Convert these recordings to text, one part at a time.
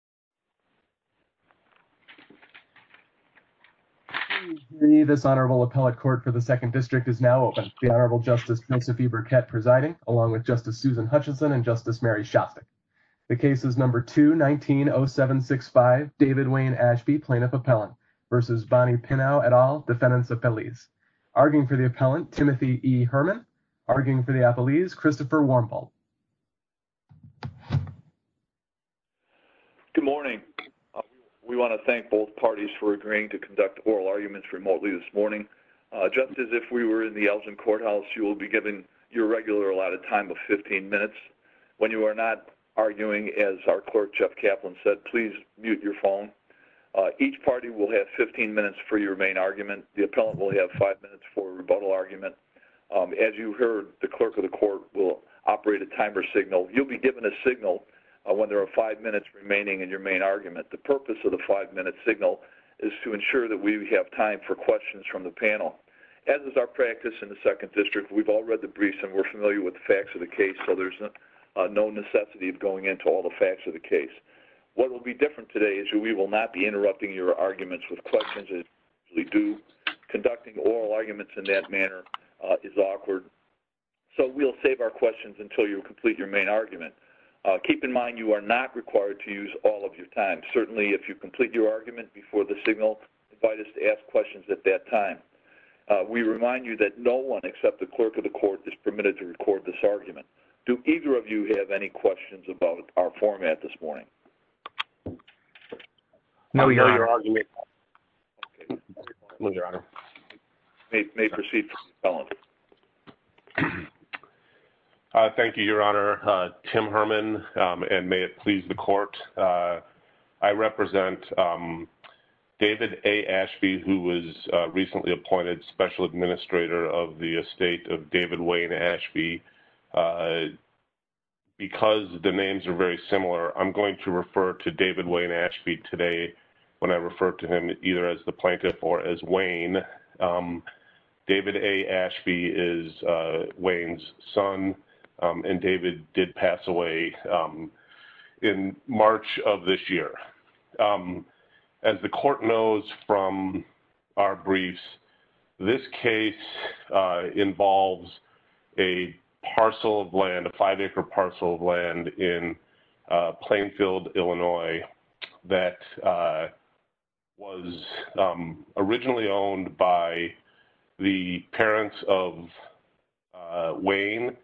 Timothy E. Herman Christopher Wormholt Good morning. We want to thank both parties for agreeing to conduct oral arguments remotely this morning. Just as if we were in the Elgin Courthouse, you will be given your regular allotted time of 15 minutes. When you are not arguing, as our clerk Jeff Kaplan said, please mute your phone. Each party will have 15 minutes for your main argument. The appellant will have five minutes for a rebuttal argument. As you heard, the clerk of the court will operate a timer signal. You'll be given a signal when there are five minutes remaining in your main argument. The purpose of the five-minute signal is to ensure that we have time for questions from the panel. As is our practice in the Second District, we've all read the briefs and we're familiar with the facts of the case, so there's no necessity of going into all the facts of the case. What will be different today is we will not be interrupting your arguments with questions as we usually do. Conducting oral arguments in that manner is awkward. So we'll save our questions until you complete your main argument. Keep in mind you are not required to use all of your time. Certainly if you complete your argument before the signal, invite us to ask questions at that time. We remind you that no one except the clerk of the court is permitted to record this argument. Do either of you have any questions about our format this morning? No, Your Honor. Thank you, Your Honor. Tim Herman, and may it please the court. I represent David A. Ashby, who was recently appointed Special Administrator of the Estate of David Wayne Ashby. Because the names are very similar, I'm going to refer to David Wayne Ashby today when I refer to him either as the plaintiff or as Wayne. David A. Ashby is Wayne's son, and David did pass away in March of this year. As the court knows from our briefs, this case involves a parcel of land, a five-acre parcel of land in Plainfield, Illinois, that was originally owned by the parents of Wayne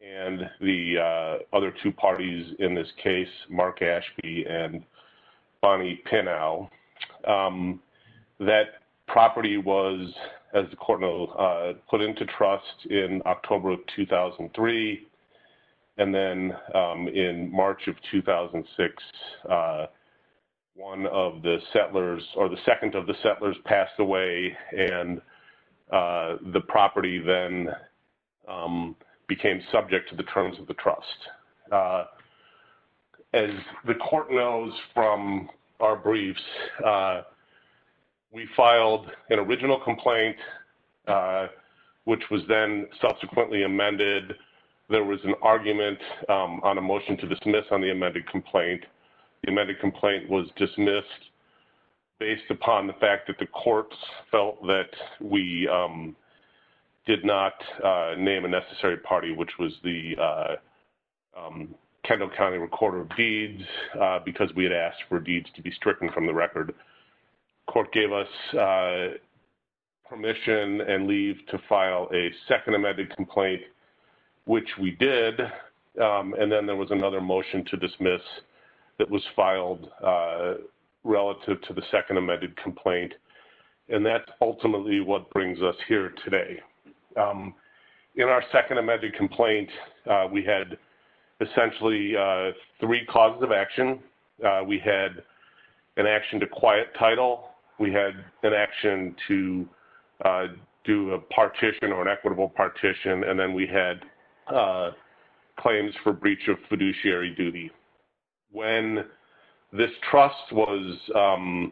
and the other two parties in this case, Mark Ashby and Bonnie Pinnell. That property was, as the court knows, put into trust in October of 2003, and then in March of 2006, one of the settlers, or the second of the settlers passed away, and the property then became subject to the terms of the trust. As the court knows from our briefs, we filed an original complaint, which was then subsequently amended. There was an argument on a motion to dismiss on the amended complaint. The amended complaint was dismissed based upon the fact that the courts felt that we did not name a necessary party, which was the Kendall County Recorder of Deeds, because we had asked for deeds to be stricken from the record. Court gave us permission and leave to file a second amended complaint, which we did, and then there was another motion to dismiss that was filed relative to the second amended complaint, and that's ultimately what brings us here today. In our second amended complaint, we had essentially three causes of action. We had an action to quiet title, we had an action to do a partition or an equitable partition, and then we had claims for breach of fiduciary duty. When this trust was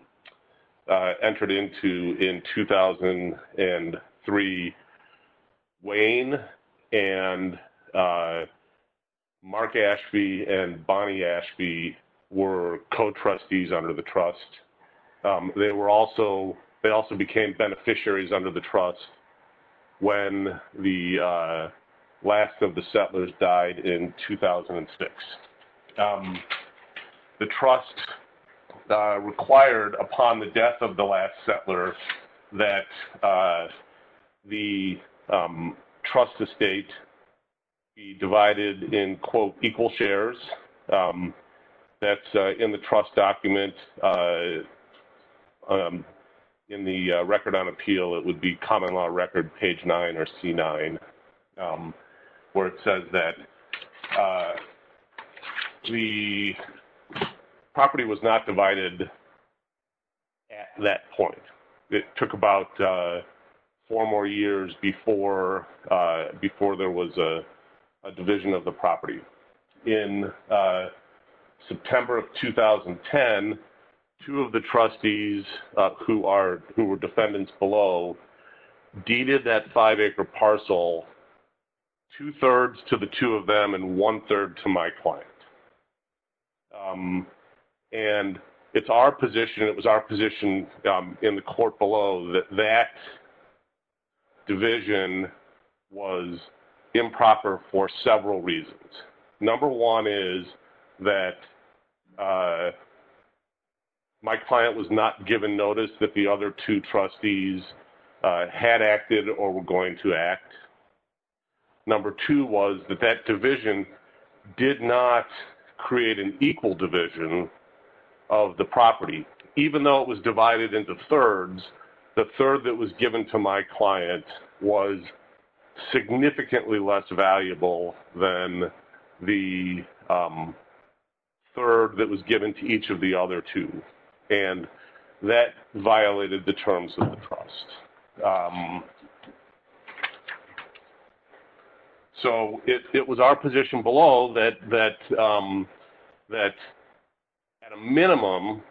entered into in 2003, Wayne and Mark Ashby and Bonnie Ashby were co-trustees under the trust. They also became beneficiaries under the trust when the last of the settlers died in 2006. The trust required upon the death of the last settler that the trust estate be divided in, quote, equal shares. That's in the trust document. In the record on appeal, it would be common law record page nine or C9, where it says that the property was not divided at that point. It took about four more years before there was a September of 2010, two of the trustees who were defendants below deeded that five-acre parcel, two-thirds to the two of them and one-third to my client. It was our position in the court below that that division was improper for several reasons. Number one is that my client was not given notice that the other two trustees had acted or were going to act. Number two was that that division did not create an equal division of the property. Even though it was divided into thirds, the third that was given to my client was significantly less valuable than the third that was given to each of the other two. That violated the terms of the trust. It was our position below that, at a minimum,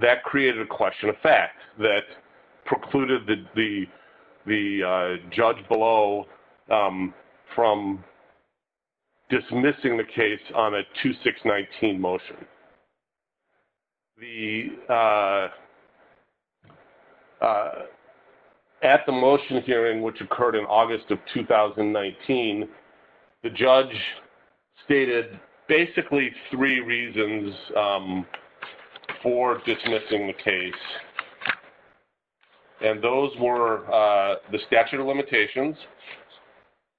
that created a question of fact that precluded Judge Below from dismissing the case on a 2619 motion. At the motion hearing, which occurred in August of 2019, the judge stated basically three reasons for dismissing the case. Those were the statute of limitations,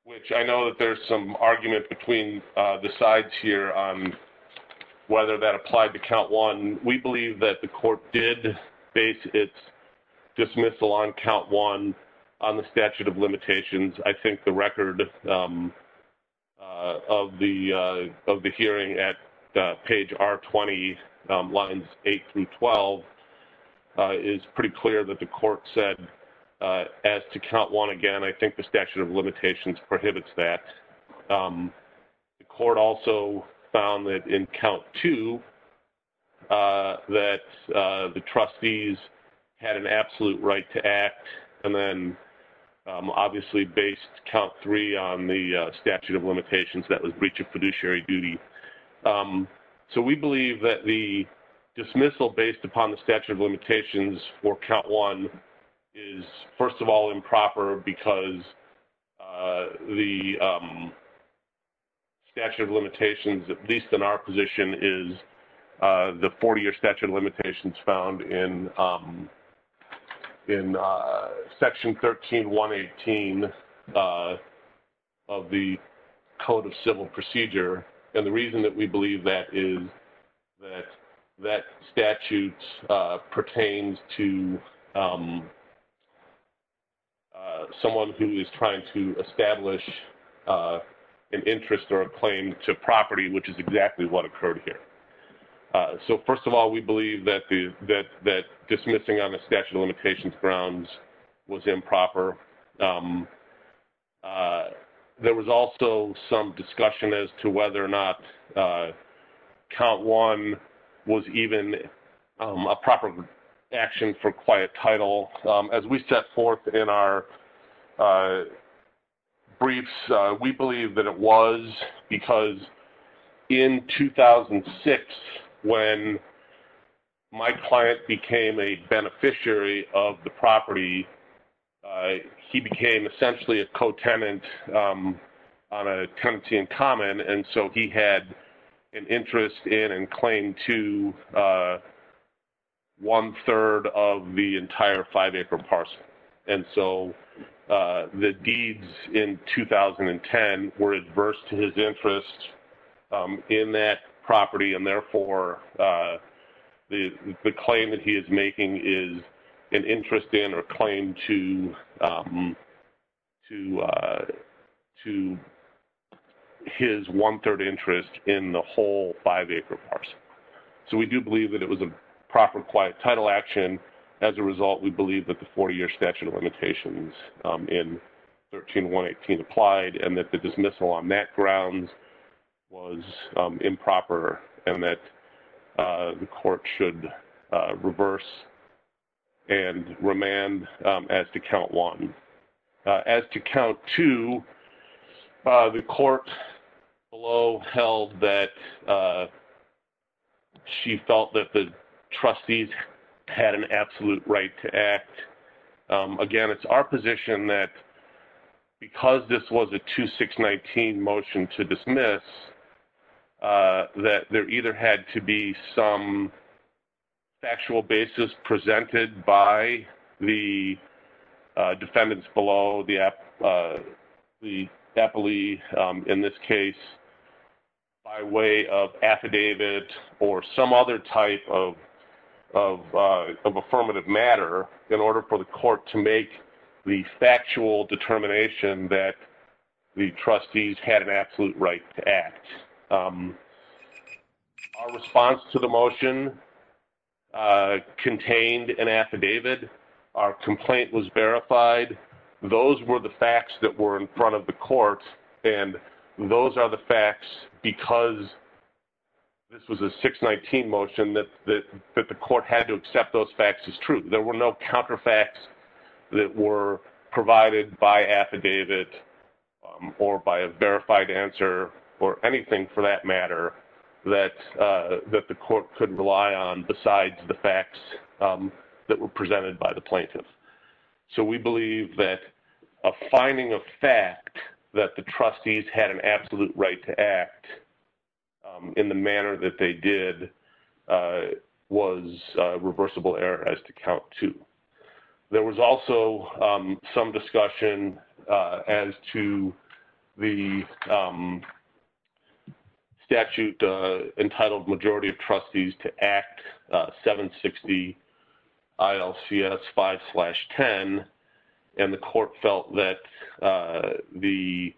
which I know that there's some argument between the sides here on whether that applied to count one. We believe that the court did base its dismissal on count one on the statute of limitations. I think the record of the hearing at page R20, lines eight through 12, is pretty clear that the court said as to count one again, I think the statute of limitations prohibits that. The court also found that in count two that the trustees had an absolute right to act, and then obviously based count three on the statute of limitations that was breach of fiduciary duty. We believe that the dismissal based upon the statute of limitations for count one is, first of all, improper because the statute of limitations, at least in our position, is the 40-year statute of limitations found in section 13118 of the Code of Civil Procedure. The reason that we believe that is that that statute pertains to someone who is trying to establish an interest or a claim to property, which is exactly what so first of all, we believe that dismissing on the statute of limitations grounds was improper. There was also some discussion as to whether or not count one was even a proper action for quiet title. As we set forth in our briefs, we believe that it was because in 2006 when my client became a beneficiary of the property, he became essentially a co-tenant on a tenancy in common, and so he had an interest in and claim to one-third of the entire five-acre parcel. The deeds in 2010 were adverse to his interest in that property, and therefore the claim that he is making is an interest in or claim to his one-third interest in the whole five-acre parcel. We do believe that it was a proper quiet title action. As a result, we believe that the 40-year statute of limitations in 13118 applied and that the dismissal on that grounds was improper and that the court should reverse and remand as to count one. As to count two, the court below held that she felt that the trustees had an absolute right to act. Again, it's our position that because this was a 2619 motion to dismiss, that there either had to be some factual basis presented by the defendants below, the deputy in this case, by way of affidavit or some other type of affirmative matter in order for the court to make the factual determination that the trustees had an absolute right to act. Our response to the motion contained an affidavit. Our complaint was verified. Those were the facts that were in front of the court, and those are the facts because this was a 619 motion that the court had to accept those facts as true. There were no counterfacts that were provided by affidavit or by a verified answer or anything for that matter that the court could rely on besides the facts that were presented by the plaintiff. We believe that a finding of fact that the trustees had an absolute right to act in the manner that they did was a reversible error as to count two. There was also some discussion as to the statute entitled Majority of Trustees to Act 760 ILCS 5-10, and the court felt that the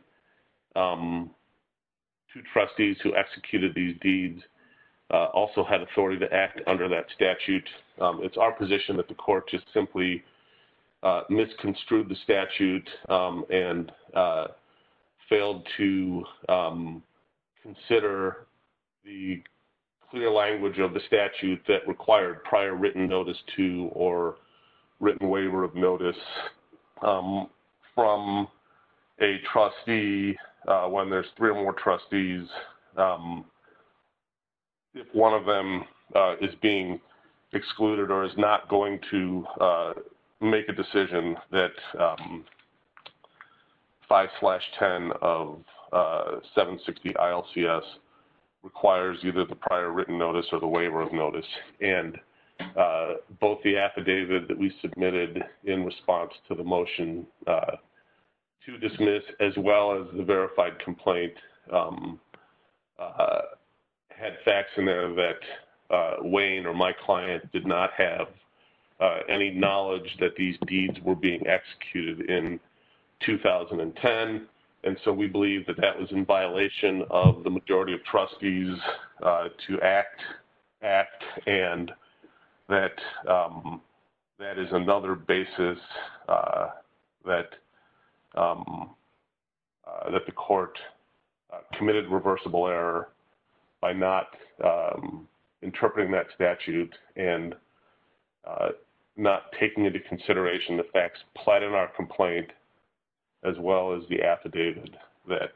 two trustees who executed these deeds also had authority to act under that statute. It's our position that the court just simply misconstrued the statute and failed to consider the clear language of the statute that required prior written notice to or written waiver of notice from a trustee when there's three or more trustees. If one of them is being excluded or is not going to make a decision that 5-10 of 760 ILCS requires either the prior written notice or the waiver of notice, and both the affidavit that we submitted in response to the motion to dismiss as well as the verified complaint had facts in there that Wayne or my client did not have any knowledge that these deeds were being executed in 2010, and so we believe that that was in violation of the majority of trustees to act, and that is another basis that the court committed reversible error by not interpreting that statute and not taking into consideration the facts pled in our complaint as well as the affidavit that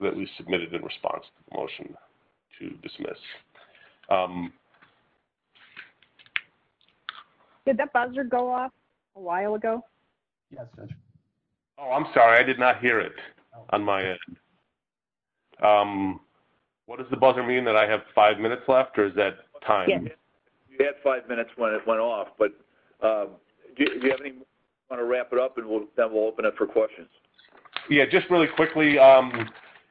we submitted in response to the motion to dismiss. Did that buzzer go off a while ago? Yes, it did. Oh, I'm sorry. I did not hear it on my end. What does the buzzer mean, that I have five minutes left, or is that time? You had five minutes when it went off, but do you have any more minutes to wrap it up, and then we'll open up for questions. Yes, just really quickly, on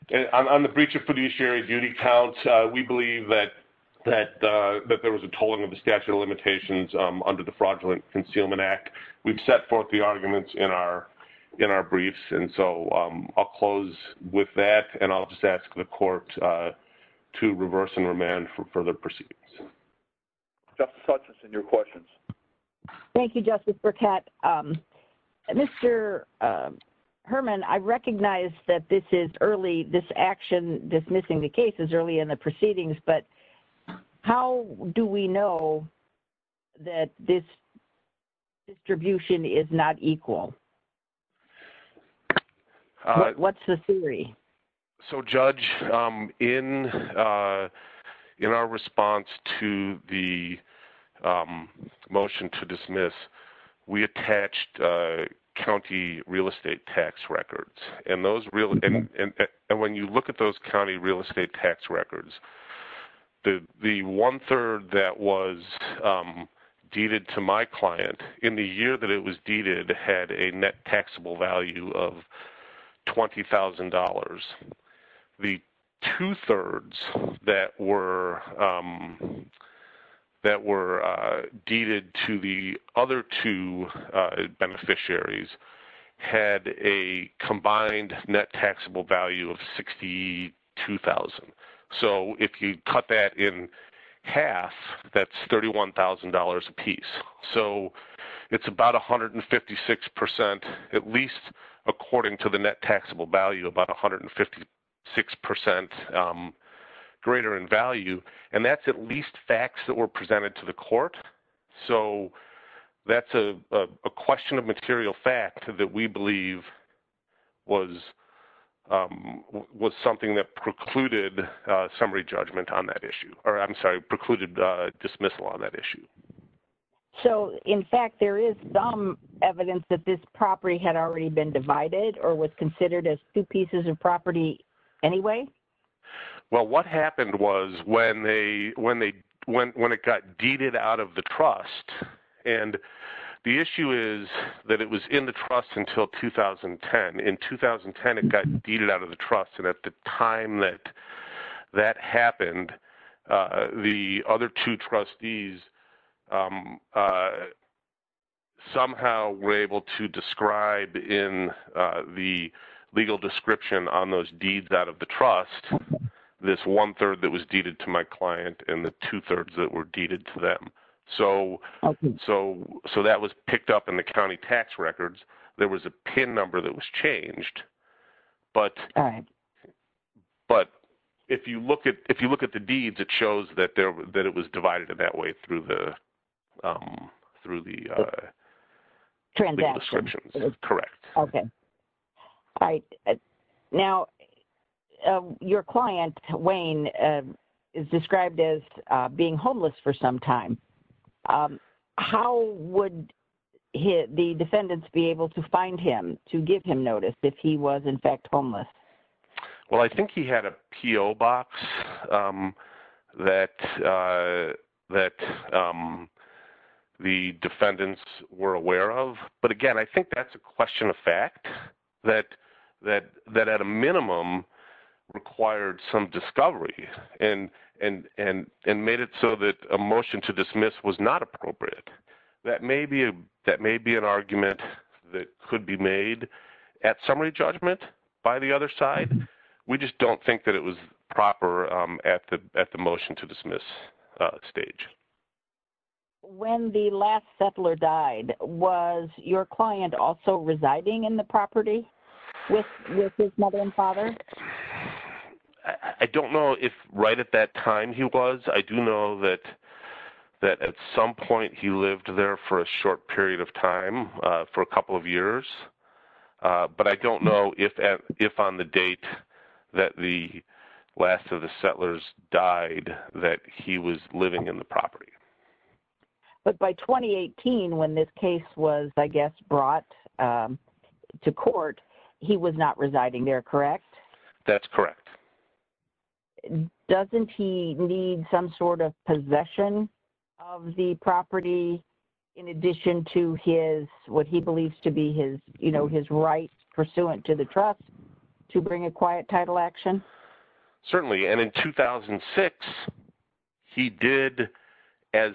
the breach of fiduciary duty counts, we believe that there was a tolling of the statute of limitations under the Fraudulent Concealment Act. We've set forth the arguments in our briefs, and so I'll close with that, and I'll just ask the court to reverse and remand for further proceedings. Justice Hutchinson, your questions. Thank you, Justice Burkett. Mr. Herman, I recognize that this is early, this action, dismissing the case is early in the proceedings, but how do we know that this distribution is not dismissed? We attached county real estate tax records, and when you look at those county real estate tax records, the one-third that was deeded to my client in the year that it was deeded had a combined net taxable value of $62,000. If you cut that in half, that's $31,000 a piece. It's about 156%, at least according to the net taxable value, about 156% greater in value, and that's at least facts that were presented to the court, so that's a question of material fact that we believe was something that precluded summary judgment on that issue, or I'm sorry, precluded dismissal on that issue. So, in fact, there is some evidence that this property had already been divided or was well, what happened was when it got deeded out of the trust, and the issue is that it was in the trust until 2010. In 2010, it got deeded out of the trust, and at the time that that happened, the other two trustees somehow were able to describe in the legal description on those this one-third that was deeded to my client and the two-thirds that were deeded to them, so that was picked up in the county tax records. There was a PIN number that was changed, but if you look at the deeds, it shows that it was divided that way through the transactions. Correct. Okay. All right. Now, your client, Wayne, is described as being homeless for some time. How would the defendants be able to find him, to give him notice if he was, in fact, homeless? Well, I think he had a P.O. box that that the defendants were aware of, but again, I think that's a question of fact, that at a minimum required some discovery and made it so that a motion to dismiss was not appropriate. That may be an argument that could be made at summary judgment by the other side. We just don't think that it was proper at the motion to dismiss stage. When the last settler died, was your client also residing in the property with his mother and father? I don't know if right at that time he was. I do know that at some point he lived there for a short period of time, for a couple of years, but I don't know if on the date that the last of the settlers died that he was living in the property. But by 2018 when this case was, I guess, brought to court, he was not residing there, correct? That's correct. Doesn't he need some sort of possession of the property in addition to his, he believes to be his, you know, his right pursuant to the trust to bring a quiet title action? Certainly. And in 2006, he did as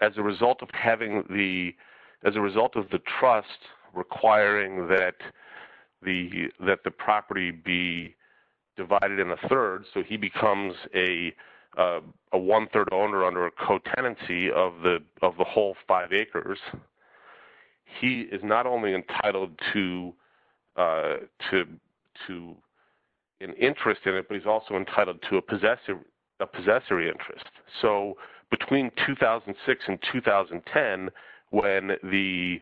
a result of having the, as a result of the trust requiring that the property be divided in the third, so he becomes a one-third owner under co-tenancy of the whole five acres. He is not only entitled to an interest in it, but he's also entitled to a possessory interest. So between 2006 and 2010 when the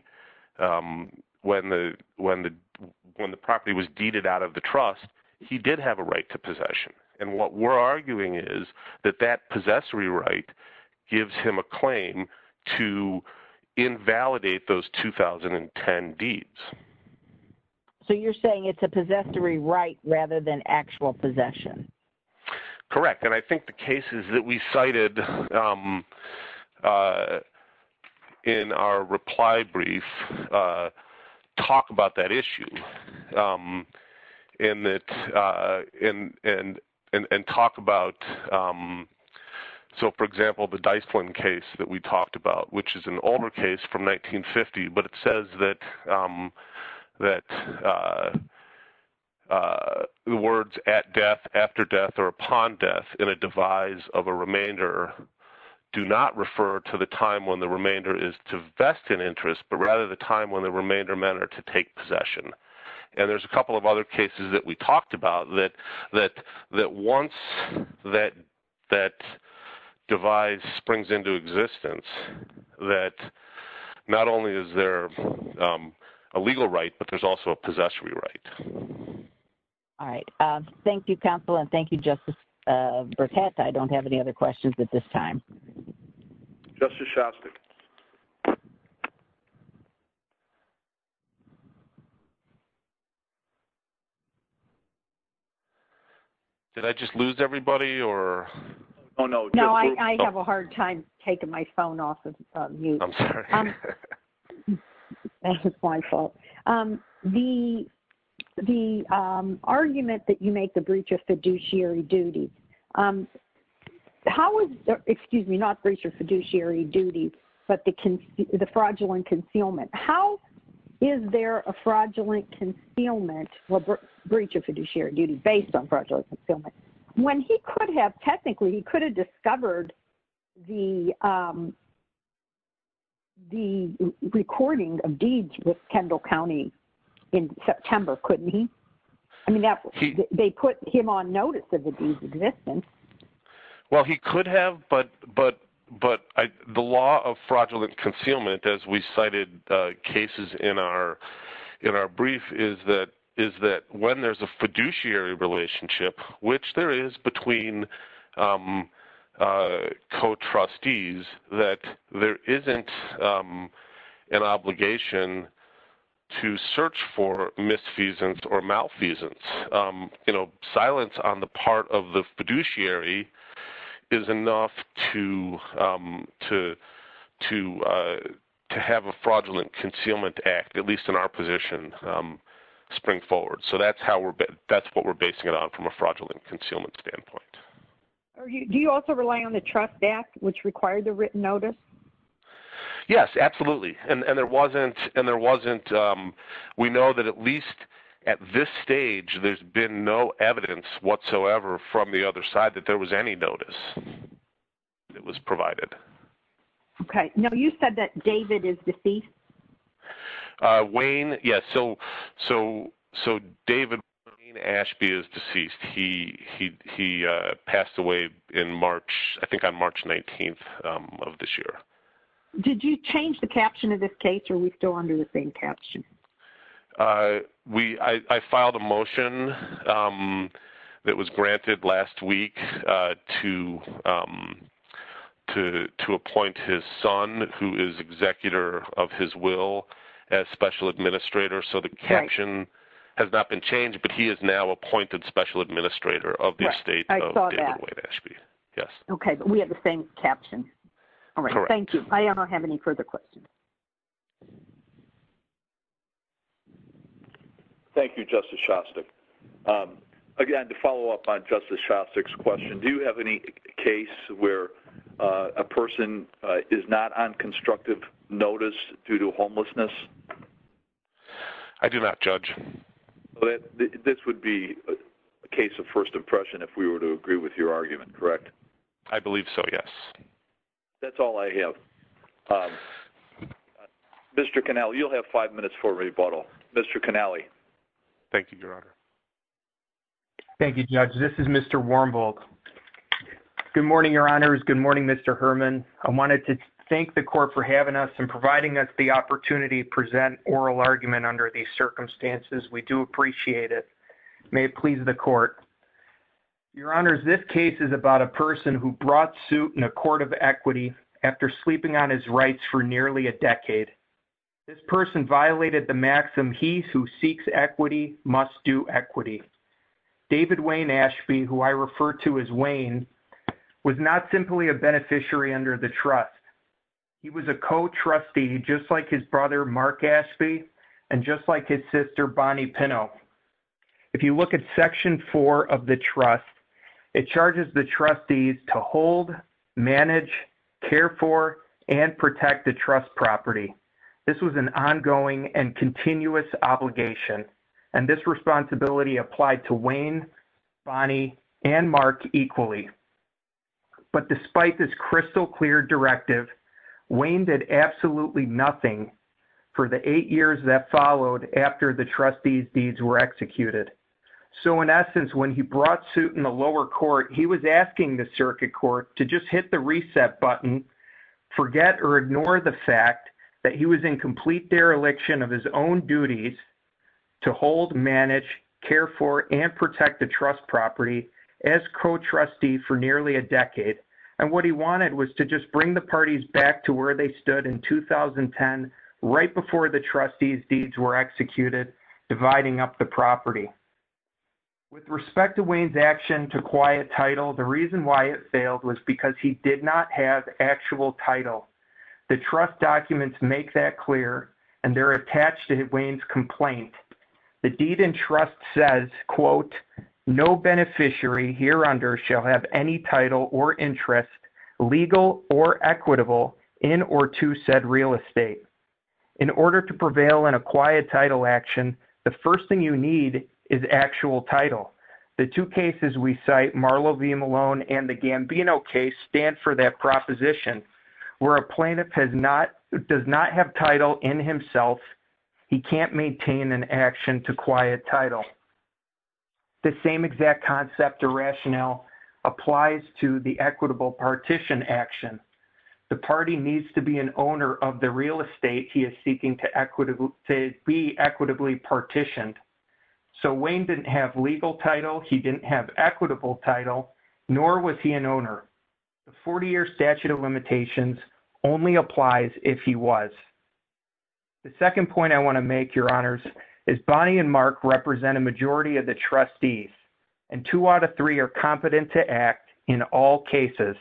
property was deeded out of the trust, he did have a right to possession. And what we're arguing is that that possessory right gives him a claim to invalidate those 2010 deeds. So you're saying it's a possessory right rather than actual possession? Correct. And I think the cases that we cited in our reply brief talk about that issue and that, and talk about, so for example, the Dyspline case that we talked about, which is an older case from 1950, but it says that the words at death, after death, or upon death in a devise of a remainder do not refer to the time when the remainder is to vest an interest, but rather the time when the remainder men are to take possession. And there's a couple of other cases that we talked about that once that existence, that not only is there a legal right, but there's also a possessory right. All right. Thank you, counsel. And thank you, Justice Burkett. I don't have any other questions at this time. Justice Shostak. Did I just lose everybody or? No, I have a hard time taking my phone off of mute. That was my fault. The argument that you make the breach of fiduciary duty, excuse me, not breach of fiduciary duty, but the fraudulent concealment. How is there a fraudulent concealment for breach of fiduciary duty based on fraudulent concealment? When he could have, technically, he could have discovered the recording of deeds with Kendall County in September, couldn't he? I mean, they put him on notice of the deed's existence. Well, he could have, but the law of fraudulent concealment, as we cited cases in our brief, is that when there's a fiduciary relationship, which there is between some co-trustees, that there isn't an obligation to search for misfeasance or malfeasance. Silence on the part of the fiduciary is enough to have a fraudulent concealment act, at least in our position, spring forward. So that's what we're basing it on from a fraudulent concealment standpoint. Do you also rely on the trust act, which required the written notice? Yes, absolutely. We know that at least at this stage, there's been no evidence whatsoever from the other side that there was any notice that was provided. Okay. Now, you said that David is deceased. He passed away in March, I think on March 19th of this year. Did you change the caption of this case, or are we still under the same caption? I filed a motion that was granted last week to appoint his son, who is executor of his will, as special administrator. So the caption has not been changed, but he is now appointed special administrator of the estate of David Wayne Ashby. Yes. Okay. But we have the same caption. All right. Thank you. I don't have any further questions. Thank you, Justice Shostak. Again, to follow up on Justice Shostak's question, do you have any case where a person is not on constructive notice due to homelessness? I do not, Judge. This would be a case of first impression if we were to agree with your argument, correct? I believe so, yes. That's all I have. Mr. Canale, you'll have five minutes for rebuttal. Mr. Canale. Thank you, Your Honor. Thank you, Judge. This is Mr. Wormbold. Good morning, Your Honor. Good morning, Mr. Herman. I wanted to thank the court for having us and providing us the opportunity to present oral argument under these circumstances. We do appreciate it. May it please the court. Your Honor, this case is about a person who brought suit in a court of equity after sleeping on his rights for nearly a decade. This person violated the maxim, he who seeks equity must do equity. David Wayne Ashby, who I refer to as Wayne, was not simply a beneficiary under the trust. He was a co-trustee just like his brother, Mark Ashby, and just like his sister, Bonnie Pinnow. If you look at section four of the trust, it charges the trustees to hold, manage, care for, and protect the trust property. This was an ongoing and continuous obligation. And this responsibility applied to Wayne, Bonnie, and Mark equally. But despite this crystal clear directive, Wayne did absolutely nothing for the eight years that followed after the trustees deeds were executed. So in essence, when he brought suit in the lower court, he was asking the circuit court to just hit the reset button, forget or ignore the fact that he was in complete dereliction of his own duties to hold, manage, care for, and protect the trust property as co-trustee for nearly a decade. And what he wanted was to just bring the parties back to where they stood in 2010 right before the trustees deeds were executed, dividing up the property. With respect to Wayne's action to quiet title, the reason why it failed was because he did not have actual title. The trust documents make that clear and they're attached to Wayne's complaint. The deed and trust says, quote, no beneficiary here under shall have any title or interest, legal or equitable, in or to said real estate. In order to prevail in a quiet title action, the first thing you need is actual title. The two cases we cite, Marlowe v. Malone and the Gambino case stand for that proposition where a plaintiff does not have title in himself, he can't maintain an action to quiet title. The same exact concept or rationale applies to the equitable partition action. The party needs to be an owner of the real estate he is seeking to be equitably partitioned. So Wayne didn't have legal title, he didn't have equitable title, nor was he an owner. The 40-year statute of limitations only applies if he was. The second point I want to make, your honors, is Bonnie and Mark represent a majority of the trustees. And two out of three are competent to act in all cases.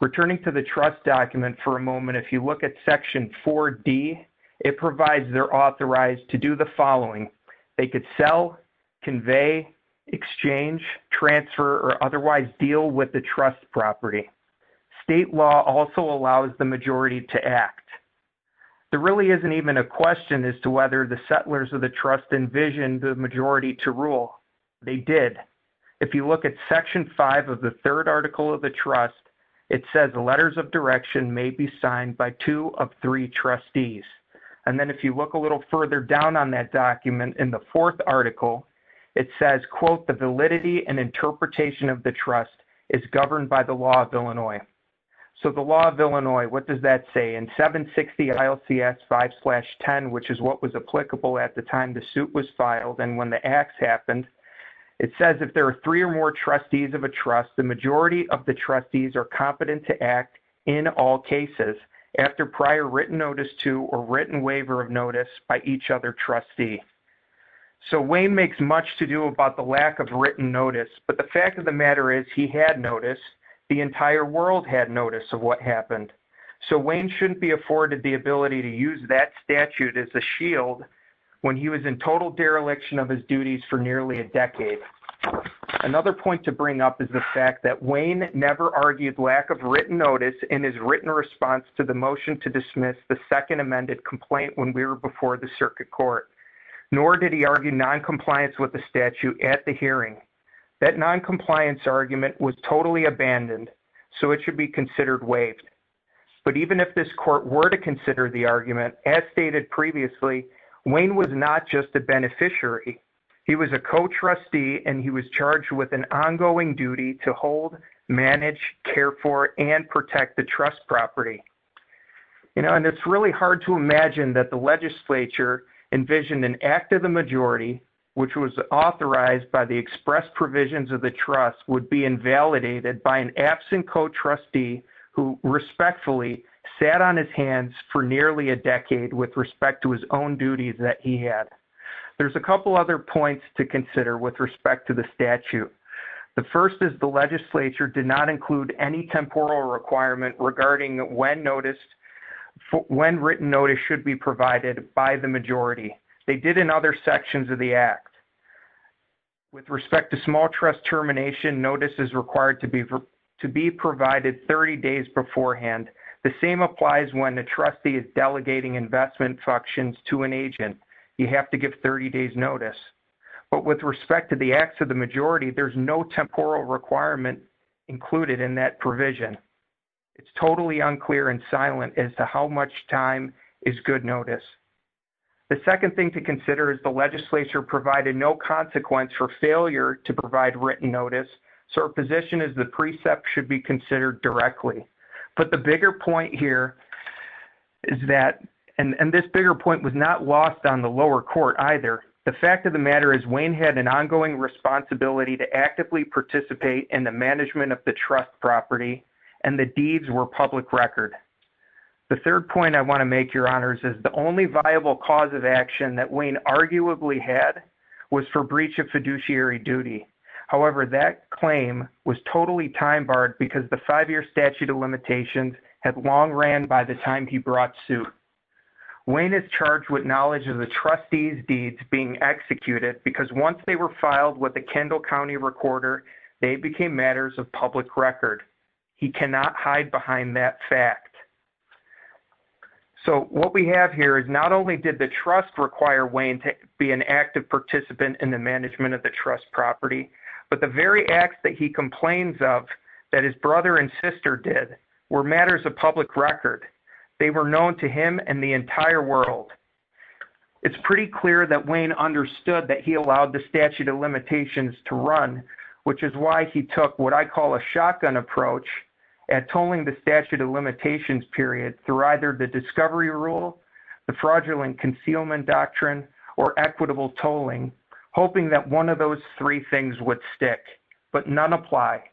Returning to the trust document for a moment, if you look at section 4D, it provides they're authorized to do the following. They could sell, convey, exchange, transfer, or otherwise deal with the trust property. State law also allows the majority to act. There really isn't even a question as to whether the settlers of the trust envisioned the majority to rule. They did. If you look at section 5 of the two of three trustees. And then if you look a little further down on that document, in the fourth article, it says, quote, the validity and interpretation of the trust is governed by the law of Illinois. So the law of Illinois, what does that say? In 760 ILCS 5-10, which is what was applicable at the time the suit was filed and when the acts happened, it says if there are three or trustees of a trust, the majority of the trustees are competent to act in all cases after prior written notice to or written waiver of notice by each other trustee. So Wayne makes much to do about the lack of written notice. But the fact of the matter is he had notice. The entire world had notice of what happened. So Wayne shouldn't be afforded the ability to use that statute as a point to bring up is the fact that Wayne never argued lack of written notice in his written response to the motion to dismiss the second amended complaint when we were before the circuit court. Nor did he argue noncompliance with the statute at the hearing. That noncompliance argument was totally abandoned. So it should be considered waived. But even if this court were to consider the argument, as stated previously, Wayne was not just a beneficiary. He was a co-trustee and he was charged with an ongoing duty to hold, manage, care for, and protect the trust property. You know, and it's really hard to imagine that the legislature envisioned an act of the majority, which was authorized by the express provisions of the trust would be invalidated by an absent co-trustee who respectfully sat on his hands for nearly a decade with respect to his own duties that he had. There's a couple other points to consider with respect to the statute. The first is the legislature did not include any temporal requirement regarding when written notice should be provided by the majority. They did in other sections of the act. With respect to small trust termination, notice is required to be provided 30 days beforehand. The same applies when the trustee is delegating investment functions to an agent. You have to give 30 days notice. But with respect to the acts of the majority, there's no temporal requirement included in that provision. It's totally unclear and silent as to how much time is good notice. The second thing to consider is the legislature provided no consequence for failure to provide directly. But the bigger point here is that and this bigger point was not lost on the lower court either. The fact of the matter is Wayne had an ongoing responsibility to actively participate in the management of the trust property and the deeds were public record. The third point I want to make, your honors, is the only viable cause of action that Wayne arguably had was for breach of five-year statute of limitations had long ran by the time he brought suit. Wayne is charged with knowledge of the trustee's deeds being executed because once they were filed with the Kendall County recorder, they became matters of public record. He cannot hide behind that fact. So what we have here is not only did the trust require Wayne to be an active participant in the case, but what Wayne's sister did were matters of public record. They were known to him and the entire world. It's pretty clear that Wayne understood that he allowed the statute of limitations to run, which is why he took what I call a shotgun approach at tolling the statute of limitations period through either the discovery rule, the fraudulent concealment doctrine, or equitable tolling, hoping that one of those three things would stick. But none apply.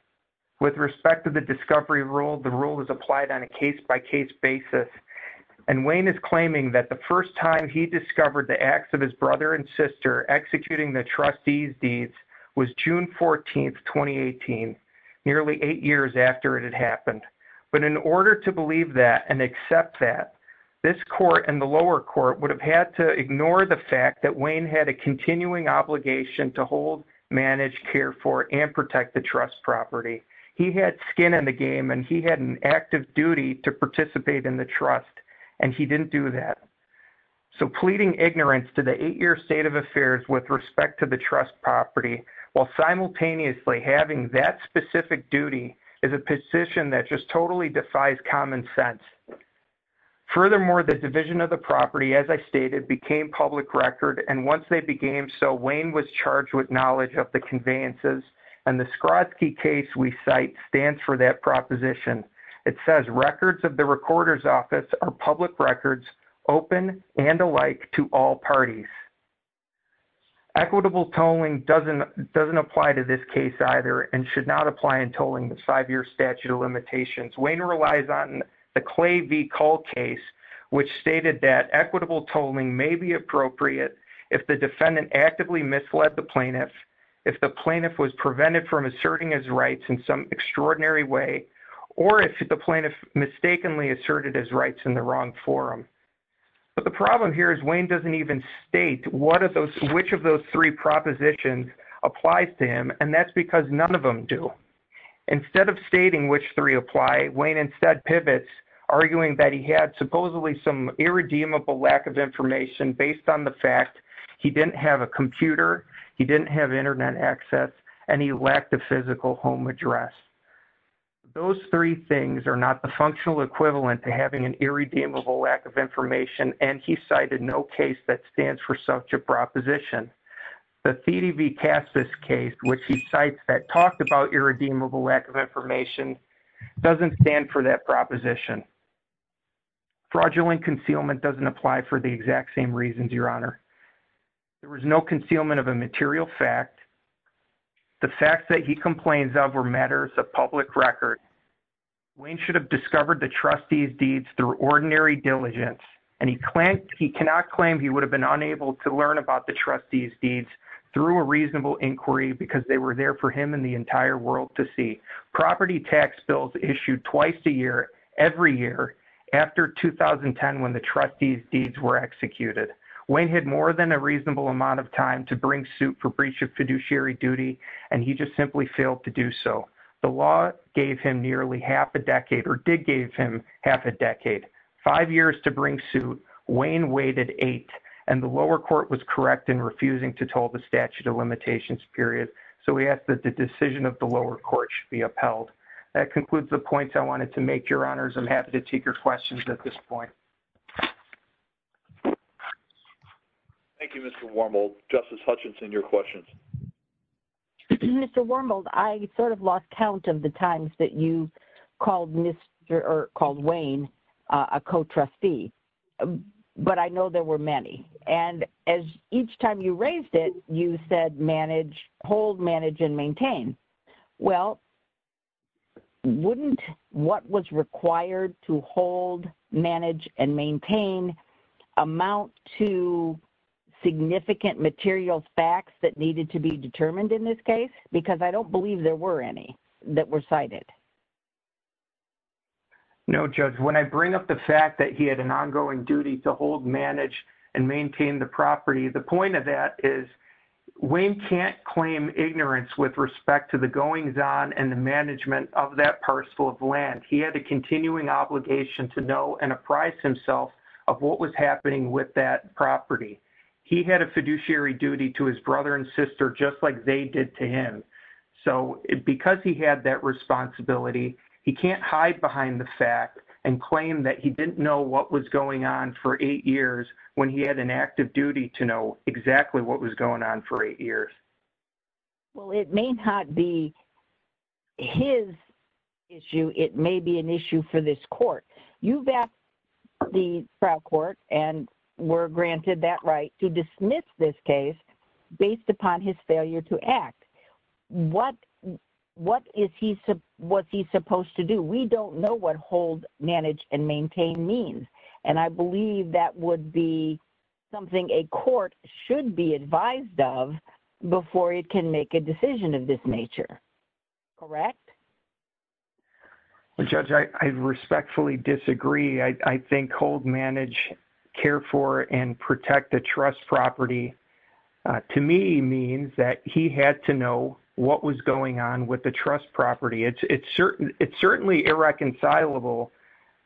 With respect to discovery rule, the rule is applied on a case-by-case basis. And Wayne is claiming that the first time he discovered the acts of his brother and sister executing the trustee's deeds was June 14, 2018, nearly eight years after it had happened. But in order to believe that and accept that, this court and the lower court would have had to ignore the fact that Wayne had a continuing obligation to hold, manage, care for, and protect the trust property. He had skin in the game and he had an active duty to participate in the trust, and he didn't do that. So pleading ignorance to the eight-year state of affairs with respect to the trust property while simultaneously having that specific duty is a position that just totally defies common sense. Furthermore, the division of Wayne was charged with knowledge of the conveyances, and the Skrodsky case we cite stands for that proposition. It says records of the recorder's office are public records open and alike to all parties. Equitable tolling doesn't apply to this case either and should not apply in tolling the five-year statute of limitations. Wayne relies on the Clay v. Cull case, which stated that equitable tolling did not apply to this case. So the question is, which of those three propositions applies to him? And that's because none of them do. Instead of stating which three apply, Wayne instead pivots, arguing that he had supposedly some irredeemable lack of information based on the fact he didn't have a computer, he didn't have internet access, and he lacked a physical home address. Those three things are not the functional equivalent to having an irredeemable lack of information, and he cited no case that stands for such a proposition. The Thiede v. Cassis case, which he cites that talked about irredeemable lack of information, doesn't stand for that proposition. Fraudulent concealment doesn't apply for the exact same reasons, Your Honor. There was no concealment of a material fact. The facts that he complains of were matters of public record. Wayne should have discovered the trustee's deeds through ordinary diligence, and he cannot claim he would have been unable to learn about the trustee's deeds through a reasonable inquiry because they were there for him and the entire world to see. Property tax bills issued twice a year, every year, after 2010 when the trustee's deeds were executed. Wayne had more than a reasonable amount of time to bring suit for breach of fiduciary duty, and he just simply failed to do so. The law gave him nearly half a decade, or did give him half a decade. Five years to bring suit, Wayne waited eight, and the lower court was correct in refusing to toll the statute of limitations period, so we ask that the decision of the lower court should be upheld. That concludes the points I wanted to make, Your Honors. I'm happy to take your questions at this point. Thank you, Mr. Wormald. Justice Hutchinson, your questions. Mr. Wormald, I sort of lost count of the times that you called Wayne a co-trustee, but I know there were many. And as each time you raised it, you said manage, hold, manage, and maintain. Well, wouldn't what was required to hold, manage, and maintain amount to significant material facts that needed to be determined in this case? Because I don't believe there were any that were cited. No, Judge. When I bring up the fact that he had an ongoing duty to hold, manage, and maintain the property, the point of that is Wayne can't claim ignorance with respect to the goings on and the management of that parcel of land. He had a continuing obligation to know and apprise himself of what was happening with that property. He had a fiduciary duty to his brother and sister just like they did to him. So because he had that responsibility, he can't hide behind the fact and claim that he didn't know what was going on for eight years when he had an active duty to know exactly what was going on for eight years. Well, it may not be his issue. It may be an issue for this court. You've asked the trial court and were granted that right to dismiss this based upon his failure to act. What is he supposed to do? We don't know what hold, manage, and maintain means. And I believe that would be something a court should be advised of before it can make a decision of this nature. Correct? Well, Judge, I respectfully disagree. I think hold, manage, care for, and protect the trust property to me means that he had to know what was going on with the trust property. It's certainly irreconcilable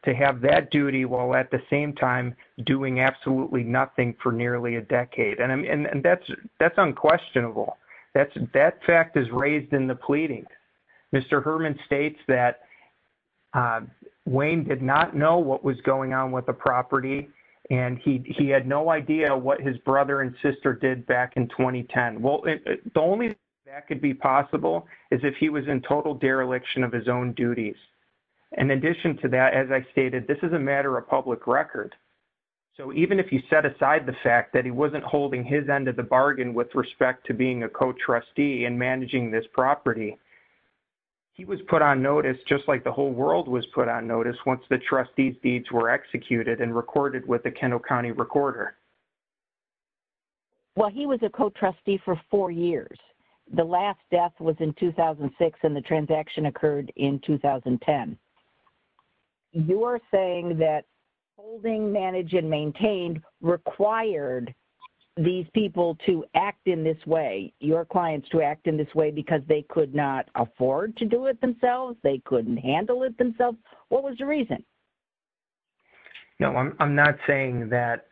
to have that duty while at the same time doing absolutely nothing for nearly a decade. And that's unquestionable. That fact is raised in the pleading. Mr. Herman states that Wayne did not know what was going on with the property, and he had no idea what his brother and sister did back in 2010. Well, the only way that could be possible is if he was in total dereliction of his own duties. In addition to that, as I stated, this is a matter of public record. So even if he set aside the fact that he wasn't holding his end of the bargain with respect to being a co-trustee and managing this property, he was put on notice just like the whole world was put on notice once the trustee's deeds were executed and recorded with the Kento County Recorder. Well, he was a co-trustee for four years. The last death was in 2006, and the transaction occurred in 2010. You're saying that holding, manage, and maintain required these people to act in this way, your clients to act in this way because they could not afford to do it themselves, they couldn't handle it themselves. What was the reason? No, I'm not saying that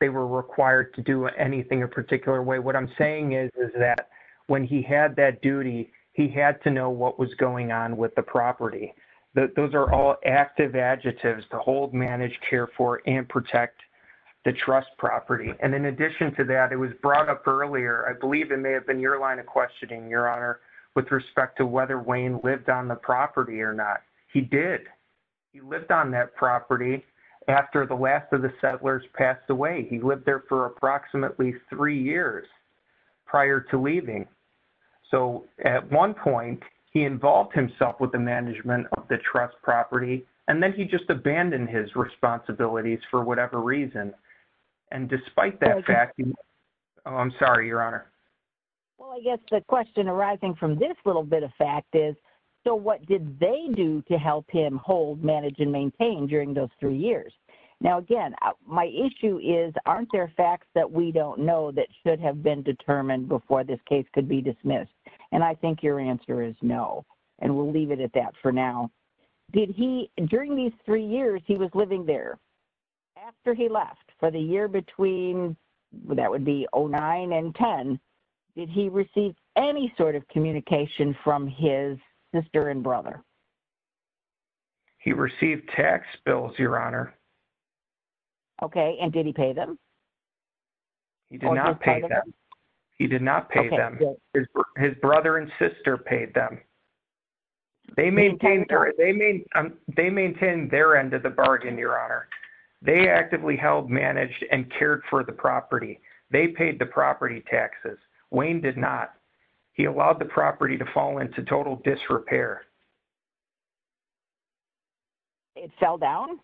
they were required to do anything a particular way. What I'm saying is that when he had that duty, he had to know what was going on with the property. Those are all active adjectives, to hold, manage, care for, and protect the trust property. And in addition to that, it was brought up earlier, I believe it may have been your line of questioning, your honor, with respect to whether Wayne lived on the property or not. He did. He lived on that property after the last of the settlers passed away. He lived there for approximately three years prior to leaving. So at one point, he involved himself with the management of the trust property, and then he just abandoned his responsibilities for whatever reason. And despite that fact, I'm sorry, your honor. Well, I guess the question arising from this little bit of fact is, so what did they do to help him hold, manage, and maintain during those years? Now, again, my issue is, aren't there facts that we don't know that should have been determined before this case could be dismissed? And I think your answer is no. And we'll leave it at that for now. Did he, during these three years he was living there, after he left, for the year between, that would be 09 and 10, did he receive any sort of communication from his sister and brother? He received tax bills, your honor. Okay. And did he pay them? He did not pay them. He did not pay them. His brother and sister paid them. They maintained their end of the bargain, your honor. They actively held, managed, and cared for the property. They paid the property taxes. Wayne did not. He allowed the property to fall into total disrepair. It fell down?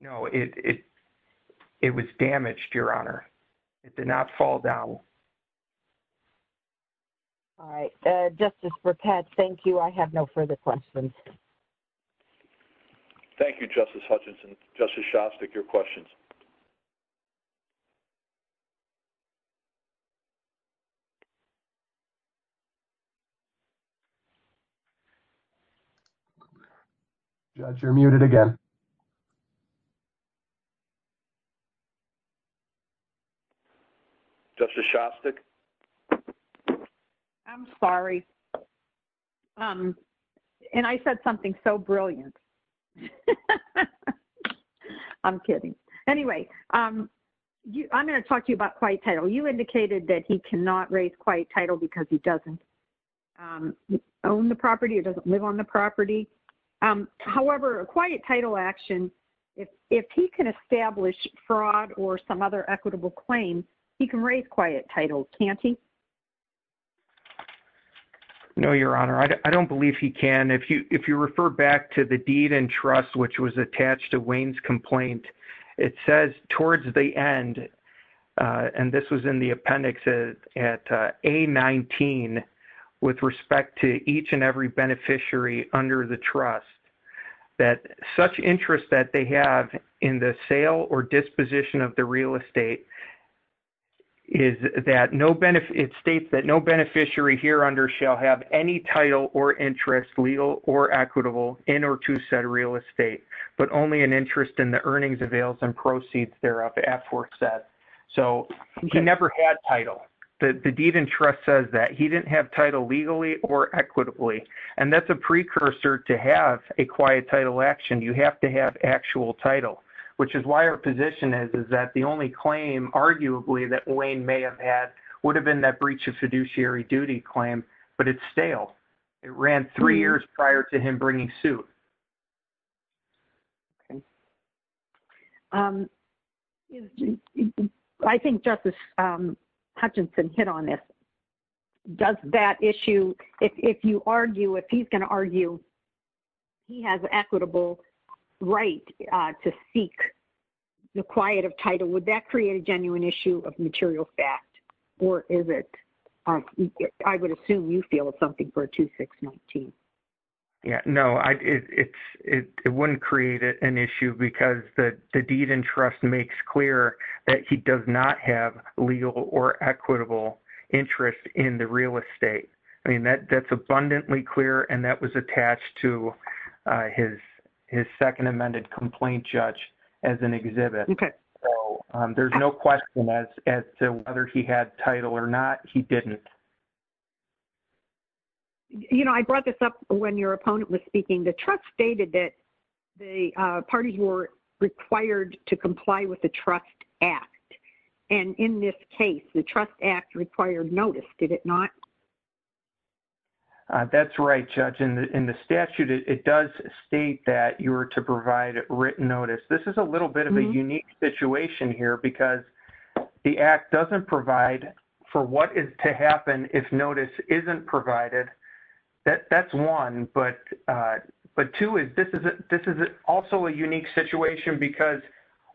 No, it was damaged, your honor. It did not fall down. All right. Justice Perpetz, thank you. I have no further questions. Thank you, Justice Hutchinson. Justice Shostak, your questions? Judge, you're muted again. Justice Shostak? I'm sorry. And I said something so brilliant. I'm kidding. Anyway, I'm going to talk to you about quiet title. You indicated that he cannot raise quiet title because he doesn't own the property or doesn't live on the property. However, a quiet title action, if he can establish fraud or some other equitable claim, he can raise quiet title, can't he? No, your honor. I don't believe he can. If you refer back to the deed and trust, which was attached to Wayne's complaint, it says towards the end, and this was in the appendix at A19, with respect to each and every beneficiary under the trust, that such interest that they have in the sale or disposition of the real estate is that it states that no beneficiary here under shall have any title or interest, legal or equitable, in or to said real estate, but only an interest in the earnings, avails, and proceeds thereof. So he never had title. The deed and trust says that. He didn't have title legally or equitably. And that's a precursor to have a quiet title action. You have to have actual title, which is why our position is that the only claim arguably that Wayne may have had would have been that breach of fiduciary duty claim, but it's stale. It ran three years prior to him bringing suit. I think Justice Hutchinson hit on this. Does that issue, if you argue, if he's going to argue he has equitable right to seek the quiet of title, would that create a genuine issue of material fact? Or is it, I would assume you feel it's something for 2619. No, it wouldn't create an issue because the deed and trust makes clear that he does not have legal or equitable interest in the real estate. I mean, that's abundantly clear, and that was attached to his second amended complaint judge as an exhibit. There's no question as to whether he had title or not. He didn't. You know, I brought this up when your opponent was speaking. The trust stated that the parties were required to comply with the trust act. And in this case, the trust act required notice, did it not? That's right, Judge. In the statute, it does state that you were to provide written notice. This is a little bit of a unique situation here because the act doesn't provide for what is to happen if notice isn't provided. That's one. But two, this is also a unique situation because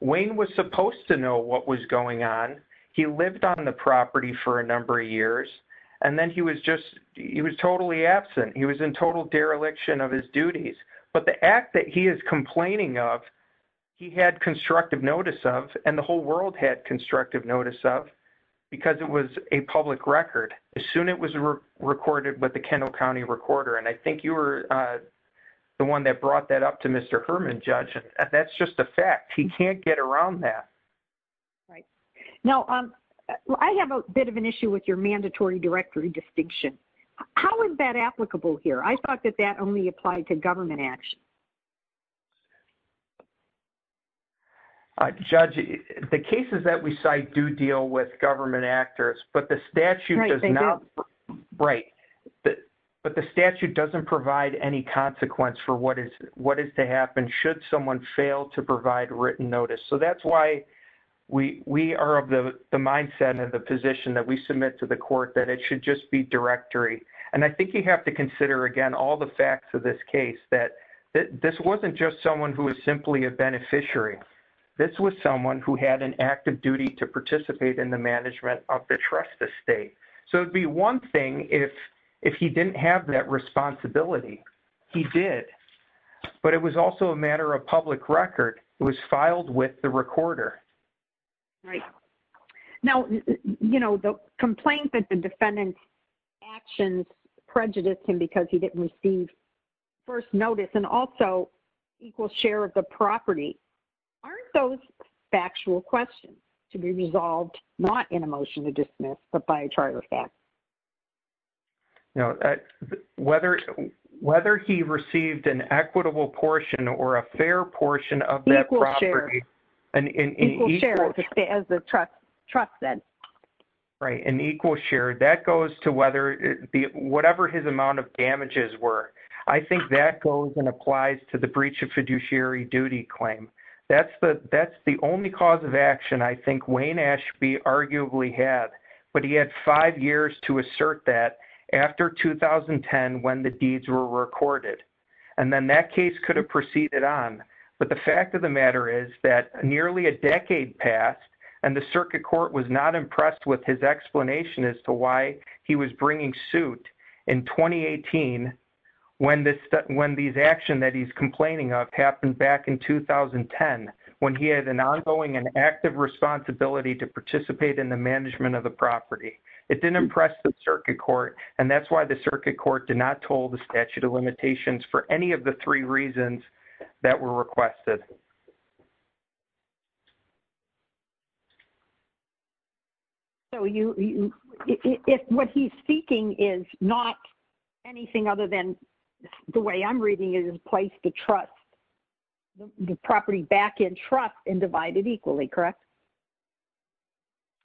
Wayne was supposed to know what was going on. He lived on the property for a number of years. And then he was just, he was totally absent. He was in total dereliction of his duties. But the act that he is complaining of, he had constructive notice of, and the whole world had constructive notice of, because it was a public record. As soon as it was recorded with the Kendall County recorder, and I think you were the one that brought that up to Mr. Herman, Judge. That's just a fact. He can't get around that. Right. Now, I have a bit of an issue with your mandatory directory distinction. How is that applicable here? I thought that that only applied to government action. Judge, the cases that we cite do deal with government actors, but the statute does not. Right. But the statute doesn't provide any consequence for what is to happen should someone fail to provide written notice. So that's why we are of the mindset and the position that we submit to the court that it should just be directory. And I think you have to consider, again, all the facts of this case, that this wasn't just someone who was simply a beneficiary. This was someone who had an active duty to participate in the management of the trust estate. So it would be one thing if he didn't have that responsibility. He did. But it was also a matter of public record. It was filed with the recorder. Right. Now, the complaint that the received first notice and also equal share of the property. Aren't those factual questions to be resolved, not in a motion to dismiss, but by a trial of facts? No. Whether he received an equitable portion or a fair portion of that property. Equal share. Equal share, as the trust said. Right. And equal share. That goes to whatever his amount of damages were. I think that goes and applies to the breach of fiduciary duty claim. That's the only cause of action I think Wayne Ashby arguably had. But he had five years to assert that after 2010 when the deeds were recorded. And then that case could have proceeded on. But the fact of the matter is that nearly a with his explanation as to why he was bringing suit in 2018 when these action that he's complaining of happened back in 2010 when he had an ongoing and active responsibility to participate in the management of the property. It didn't impress the circuit court. And that's why the circuit court did not toll the statute of limitations for any of the three reasons that were requested. So you if what he's speaking is not anything other than the way I'm reading is in place to trust the property back in trust and divide it equally, correct?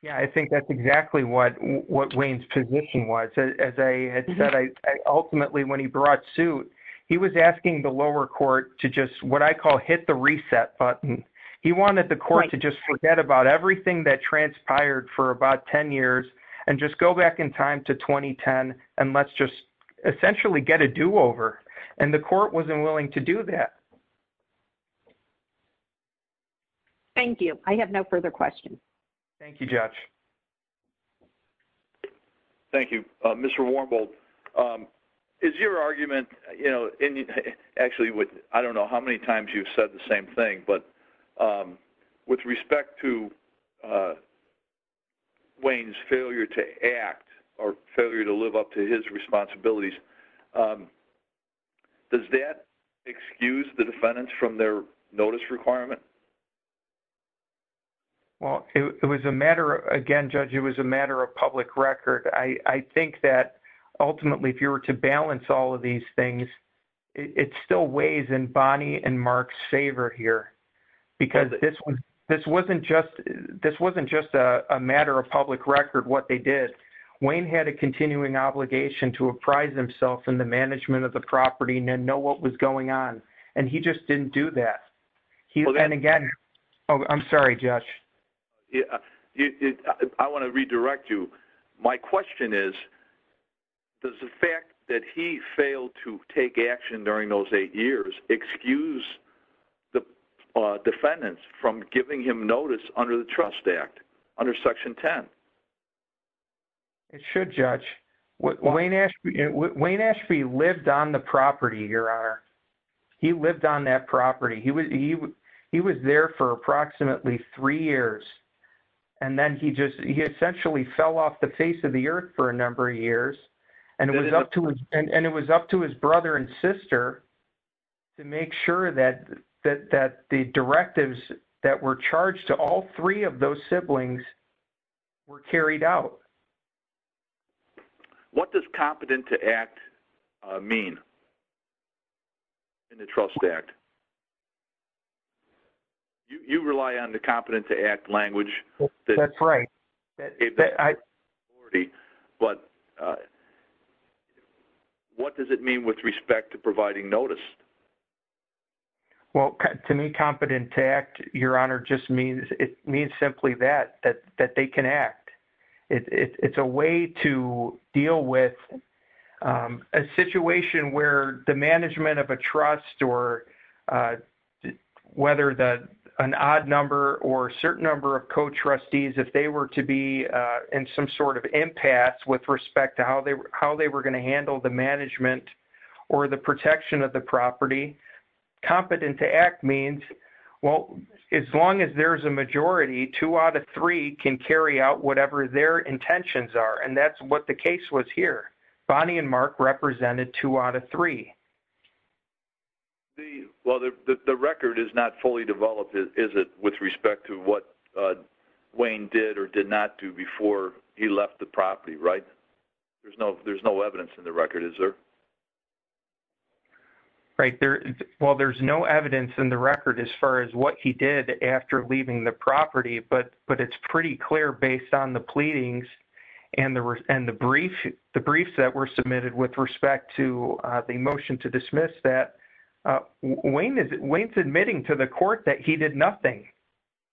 Yeah, I think that's exactly what what Wayne's position was. As I had said, I ultimately when he brought suit, he was asking the lower court to just what I call hit the reset button. He wanted the court to just forget about everything that transpired for about 10 years, and just go back in time to 2010. And let's just essentially get a do over. And the court wasn't willing to do that. Thank you. I have no further questions. Thank you, Josh. Thank you, Mr. Warmbould. Is your argument, you know, actually, I don't know how many times you've said the same thing, but with respect to Wayne's failure to act or failure to live up to his responsibilities? Does that excuse the defendants from their notice requirement? Well, it was a matter again, judge, it was a matter of public record. I think that ultimately, if you were to balance all of these things, it still weighs in Bonnie and Mark's favor here. Because this one, this wasn't just this wasn't just a matter of public record what they did. Wayne had a continuing obligation to apprise himself in the management of the property and know what was going on. And he just didn't do that. He then again, I'm sorry, Josh. Yeah, I want to redirect you. My question is, does the fact that he failed to take action during those eight years excuse the defendants from giving him notice under the Trust Act under Section 10? It should judge what Wayne Ashby, Wayne Ashby lived on the property here are he lived on that property, he was he was there for approximately three years. And then he just he essentially fell off the face of the earth for a number of years. And it was up to him. And it was up to his brother and sister to make sure that that that the directives that were charged to all three of those siblings were carried out. What does competent to act mean? In the Trust Act? You rely on the competent to act language. That's right. But what does it mean with respect to providing notice? Well, to me competent to act, Your Honor just means it means simply that that they can act. It's a way to deal with a situation where the management of a trust or whether that an odd number or certain number of co trustees if they were to be in some sort of impasse with respect to how they how they were going to handle the management or the protection of the property. Competent to act means, well, as long as there's a majority, two out of three can carry out whatever their intentions are. And that's what the case was here. Bonnie and Mark represented two out of three. Well, the record is not fully developed, is it with respect to what Wayne did or did not do before he left the property, right? There's no there's no evidence in the record, is there? Right there? Well, there's no evidence in the record as far as what he did after leaving the property. But but it's pretty clear based on the pleadings and the and the brief, the briefs that were submitted with respect to the motion to dismiss that Wayne is admitting to the court that he did nothing.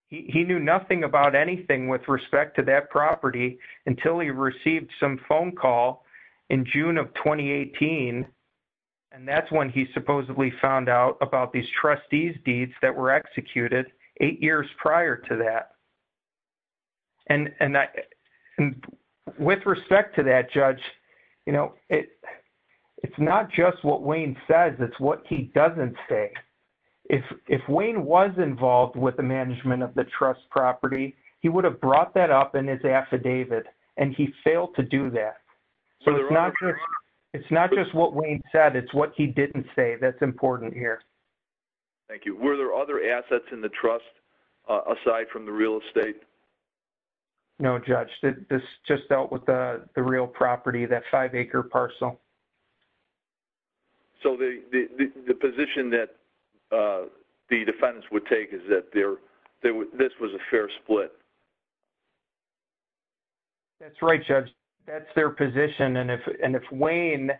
He knew nothing about anything with respect to that property until he received some phone call in June of 2018. And that's when he supposedly found out about these trustees deeds that were executed eight years prior to that. And with respect to that, Judge, you know, it it's not just what Wayne says, it's what he doesn't say. If if Wayne was involved with the management of the trust property, he would have brought that up in his affidavit. And he failed to do that. So it's not just it's not just what Wayne said, it's what he didn't say. That's important here. Thank you. Were there other assets in the trust? Aside from the real estate? No, Judge, this just dealt with the real property that five acre parcel. So the position that the defendants would take is that there, there was this was a fair split. That's right, Judge, that's their position. And if and if Wayne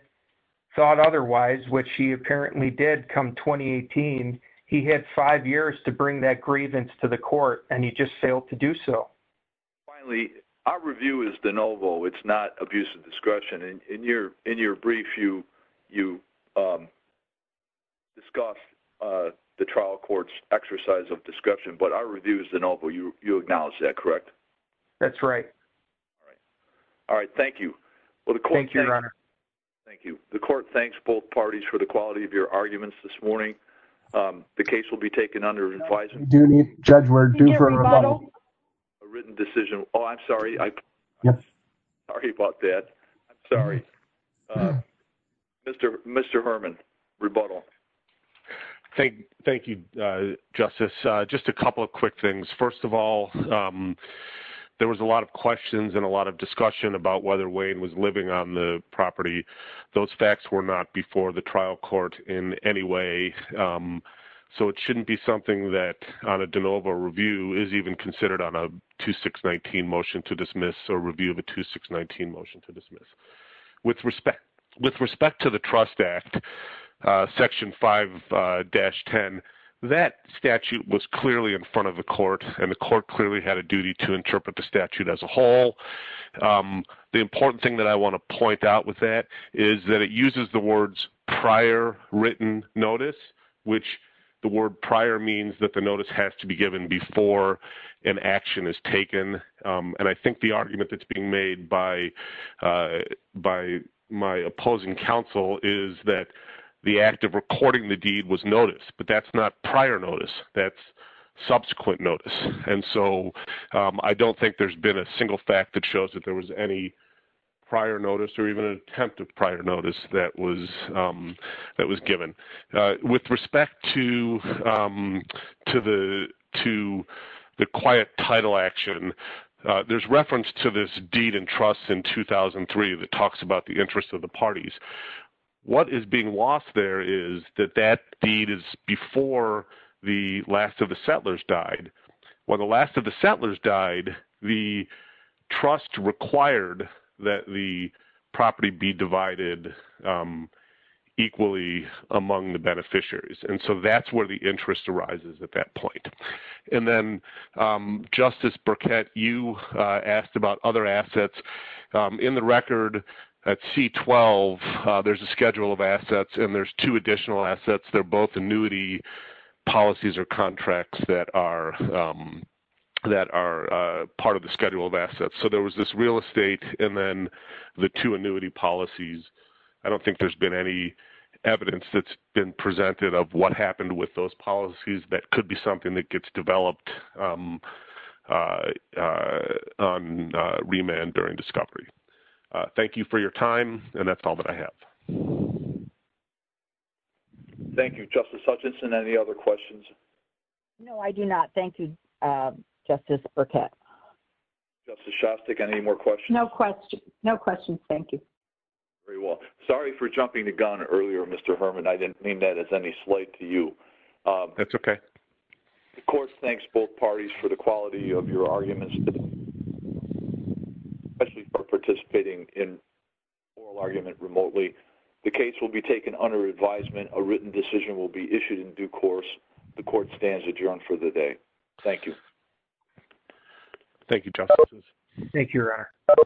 thought otherwise, which he apparently did come 2018, he had five years to bring that grievance to the court, and he just failed to do so. Finally, our review is de novo. It's not abuse of discretion. And in your in your brief, you you discuss the trial courts exercise of description, but our review is the novel you acknowledge that correct? That's right. All right. All right. Thank you. Well, thank you, Your Honor. Thank you. The court thanks both parties for the quality of your arguments this morning. The case will be taken under advice. Do you need judge? We're due for a written decision. Oh, I'm sorry. I'm sorry about that. Sorry. Mr. Mr. Herman, rebuttal. Thank Thank you, Justice. Just a couple of quick things. First of all, there was a lot of questions and a lot of discussion about whether Wayne was living on the property. Those facts were not before the trial court in any way. So it shouldn't be something that on a de novo review is even considered on a 2619 motion to dismiss or review of a 2619 motion to dismiss. With respect, with respect to the Trust Act, Section five, dash 10. That statute was clearly in front of the court and the court clearly had a duty to interpret the statute as a whole. The important thing that I want to point out with that is that it uses the words prior written notice, which the word prior means that the notice has to be given before an action is by my opposing counsel is that the act of recording the deed was noticed, but that's not prior notice. That's subsequent notice. And so I don't think there's been a single fact that shows that there was any prior notice or even an attempt of prior notice that was that was given with respect to to the to the quiet title action. There's reference to this deed and trust in 2003 that talks about the interests of the parties. What is being lost there is that that deed is before the last of the settlers died. When the last of the settlers died, the trust required that the property be divided equally among the beneficiaries. And so that's where the interest arises at that point. And then Justice Burkett, you asked about other assets in the record. At C12, there's a schedule of assets and there's two additional assets. They're both annuity policies or contracts that are that are part of the schedule of assets. So there was this real estate and then the two annuity policies. I don't think there's been any evidence that's been presented of what happened with those policies. That could be something that gets developed on remand during discovery. Thank you for your time. And that's all that I have. Thank you, Justice Hutchinson. Any other questions? No, I do not. Thank you, Justice Burkett. Justice Shostak, any more questions? No questions. No questions. Thank you. Very well. Sorry for jumping the gun earlier, Mr. Herman. I didn't mean that as any slight to you. That's okay. The court thanks both parties for the quality of your arguments, especially for participating in oral argument remotely. The case will be taken under advisement. A written decision will be issued in due course. The court stands adjourned for the day. Thank you. Thank you, Justice. Thank you, Your Honor.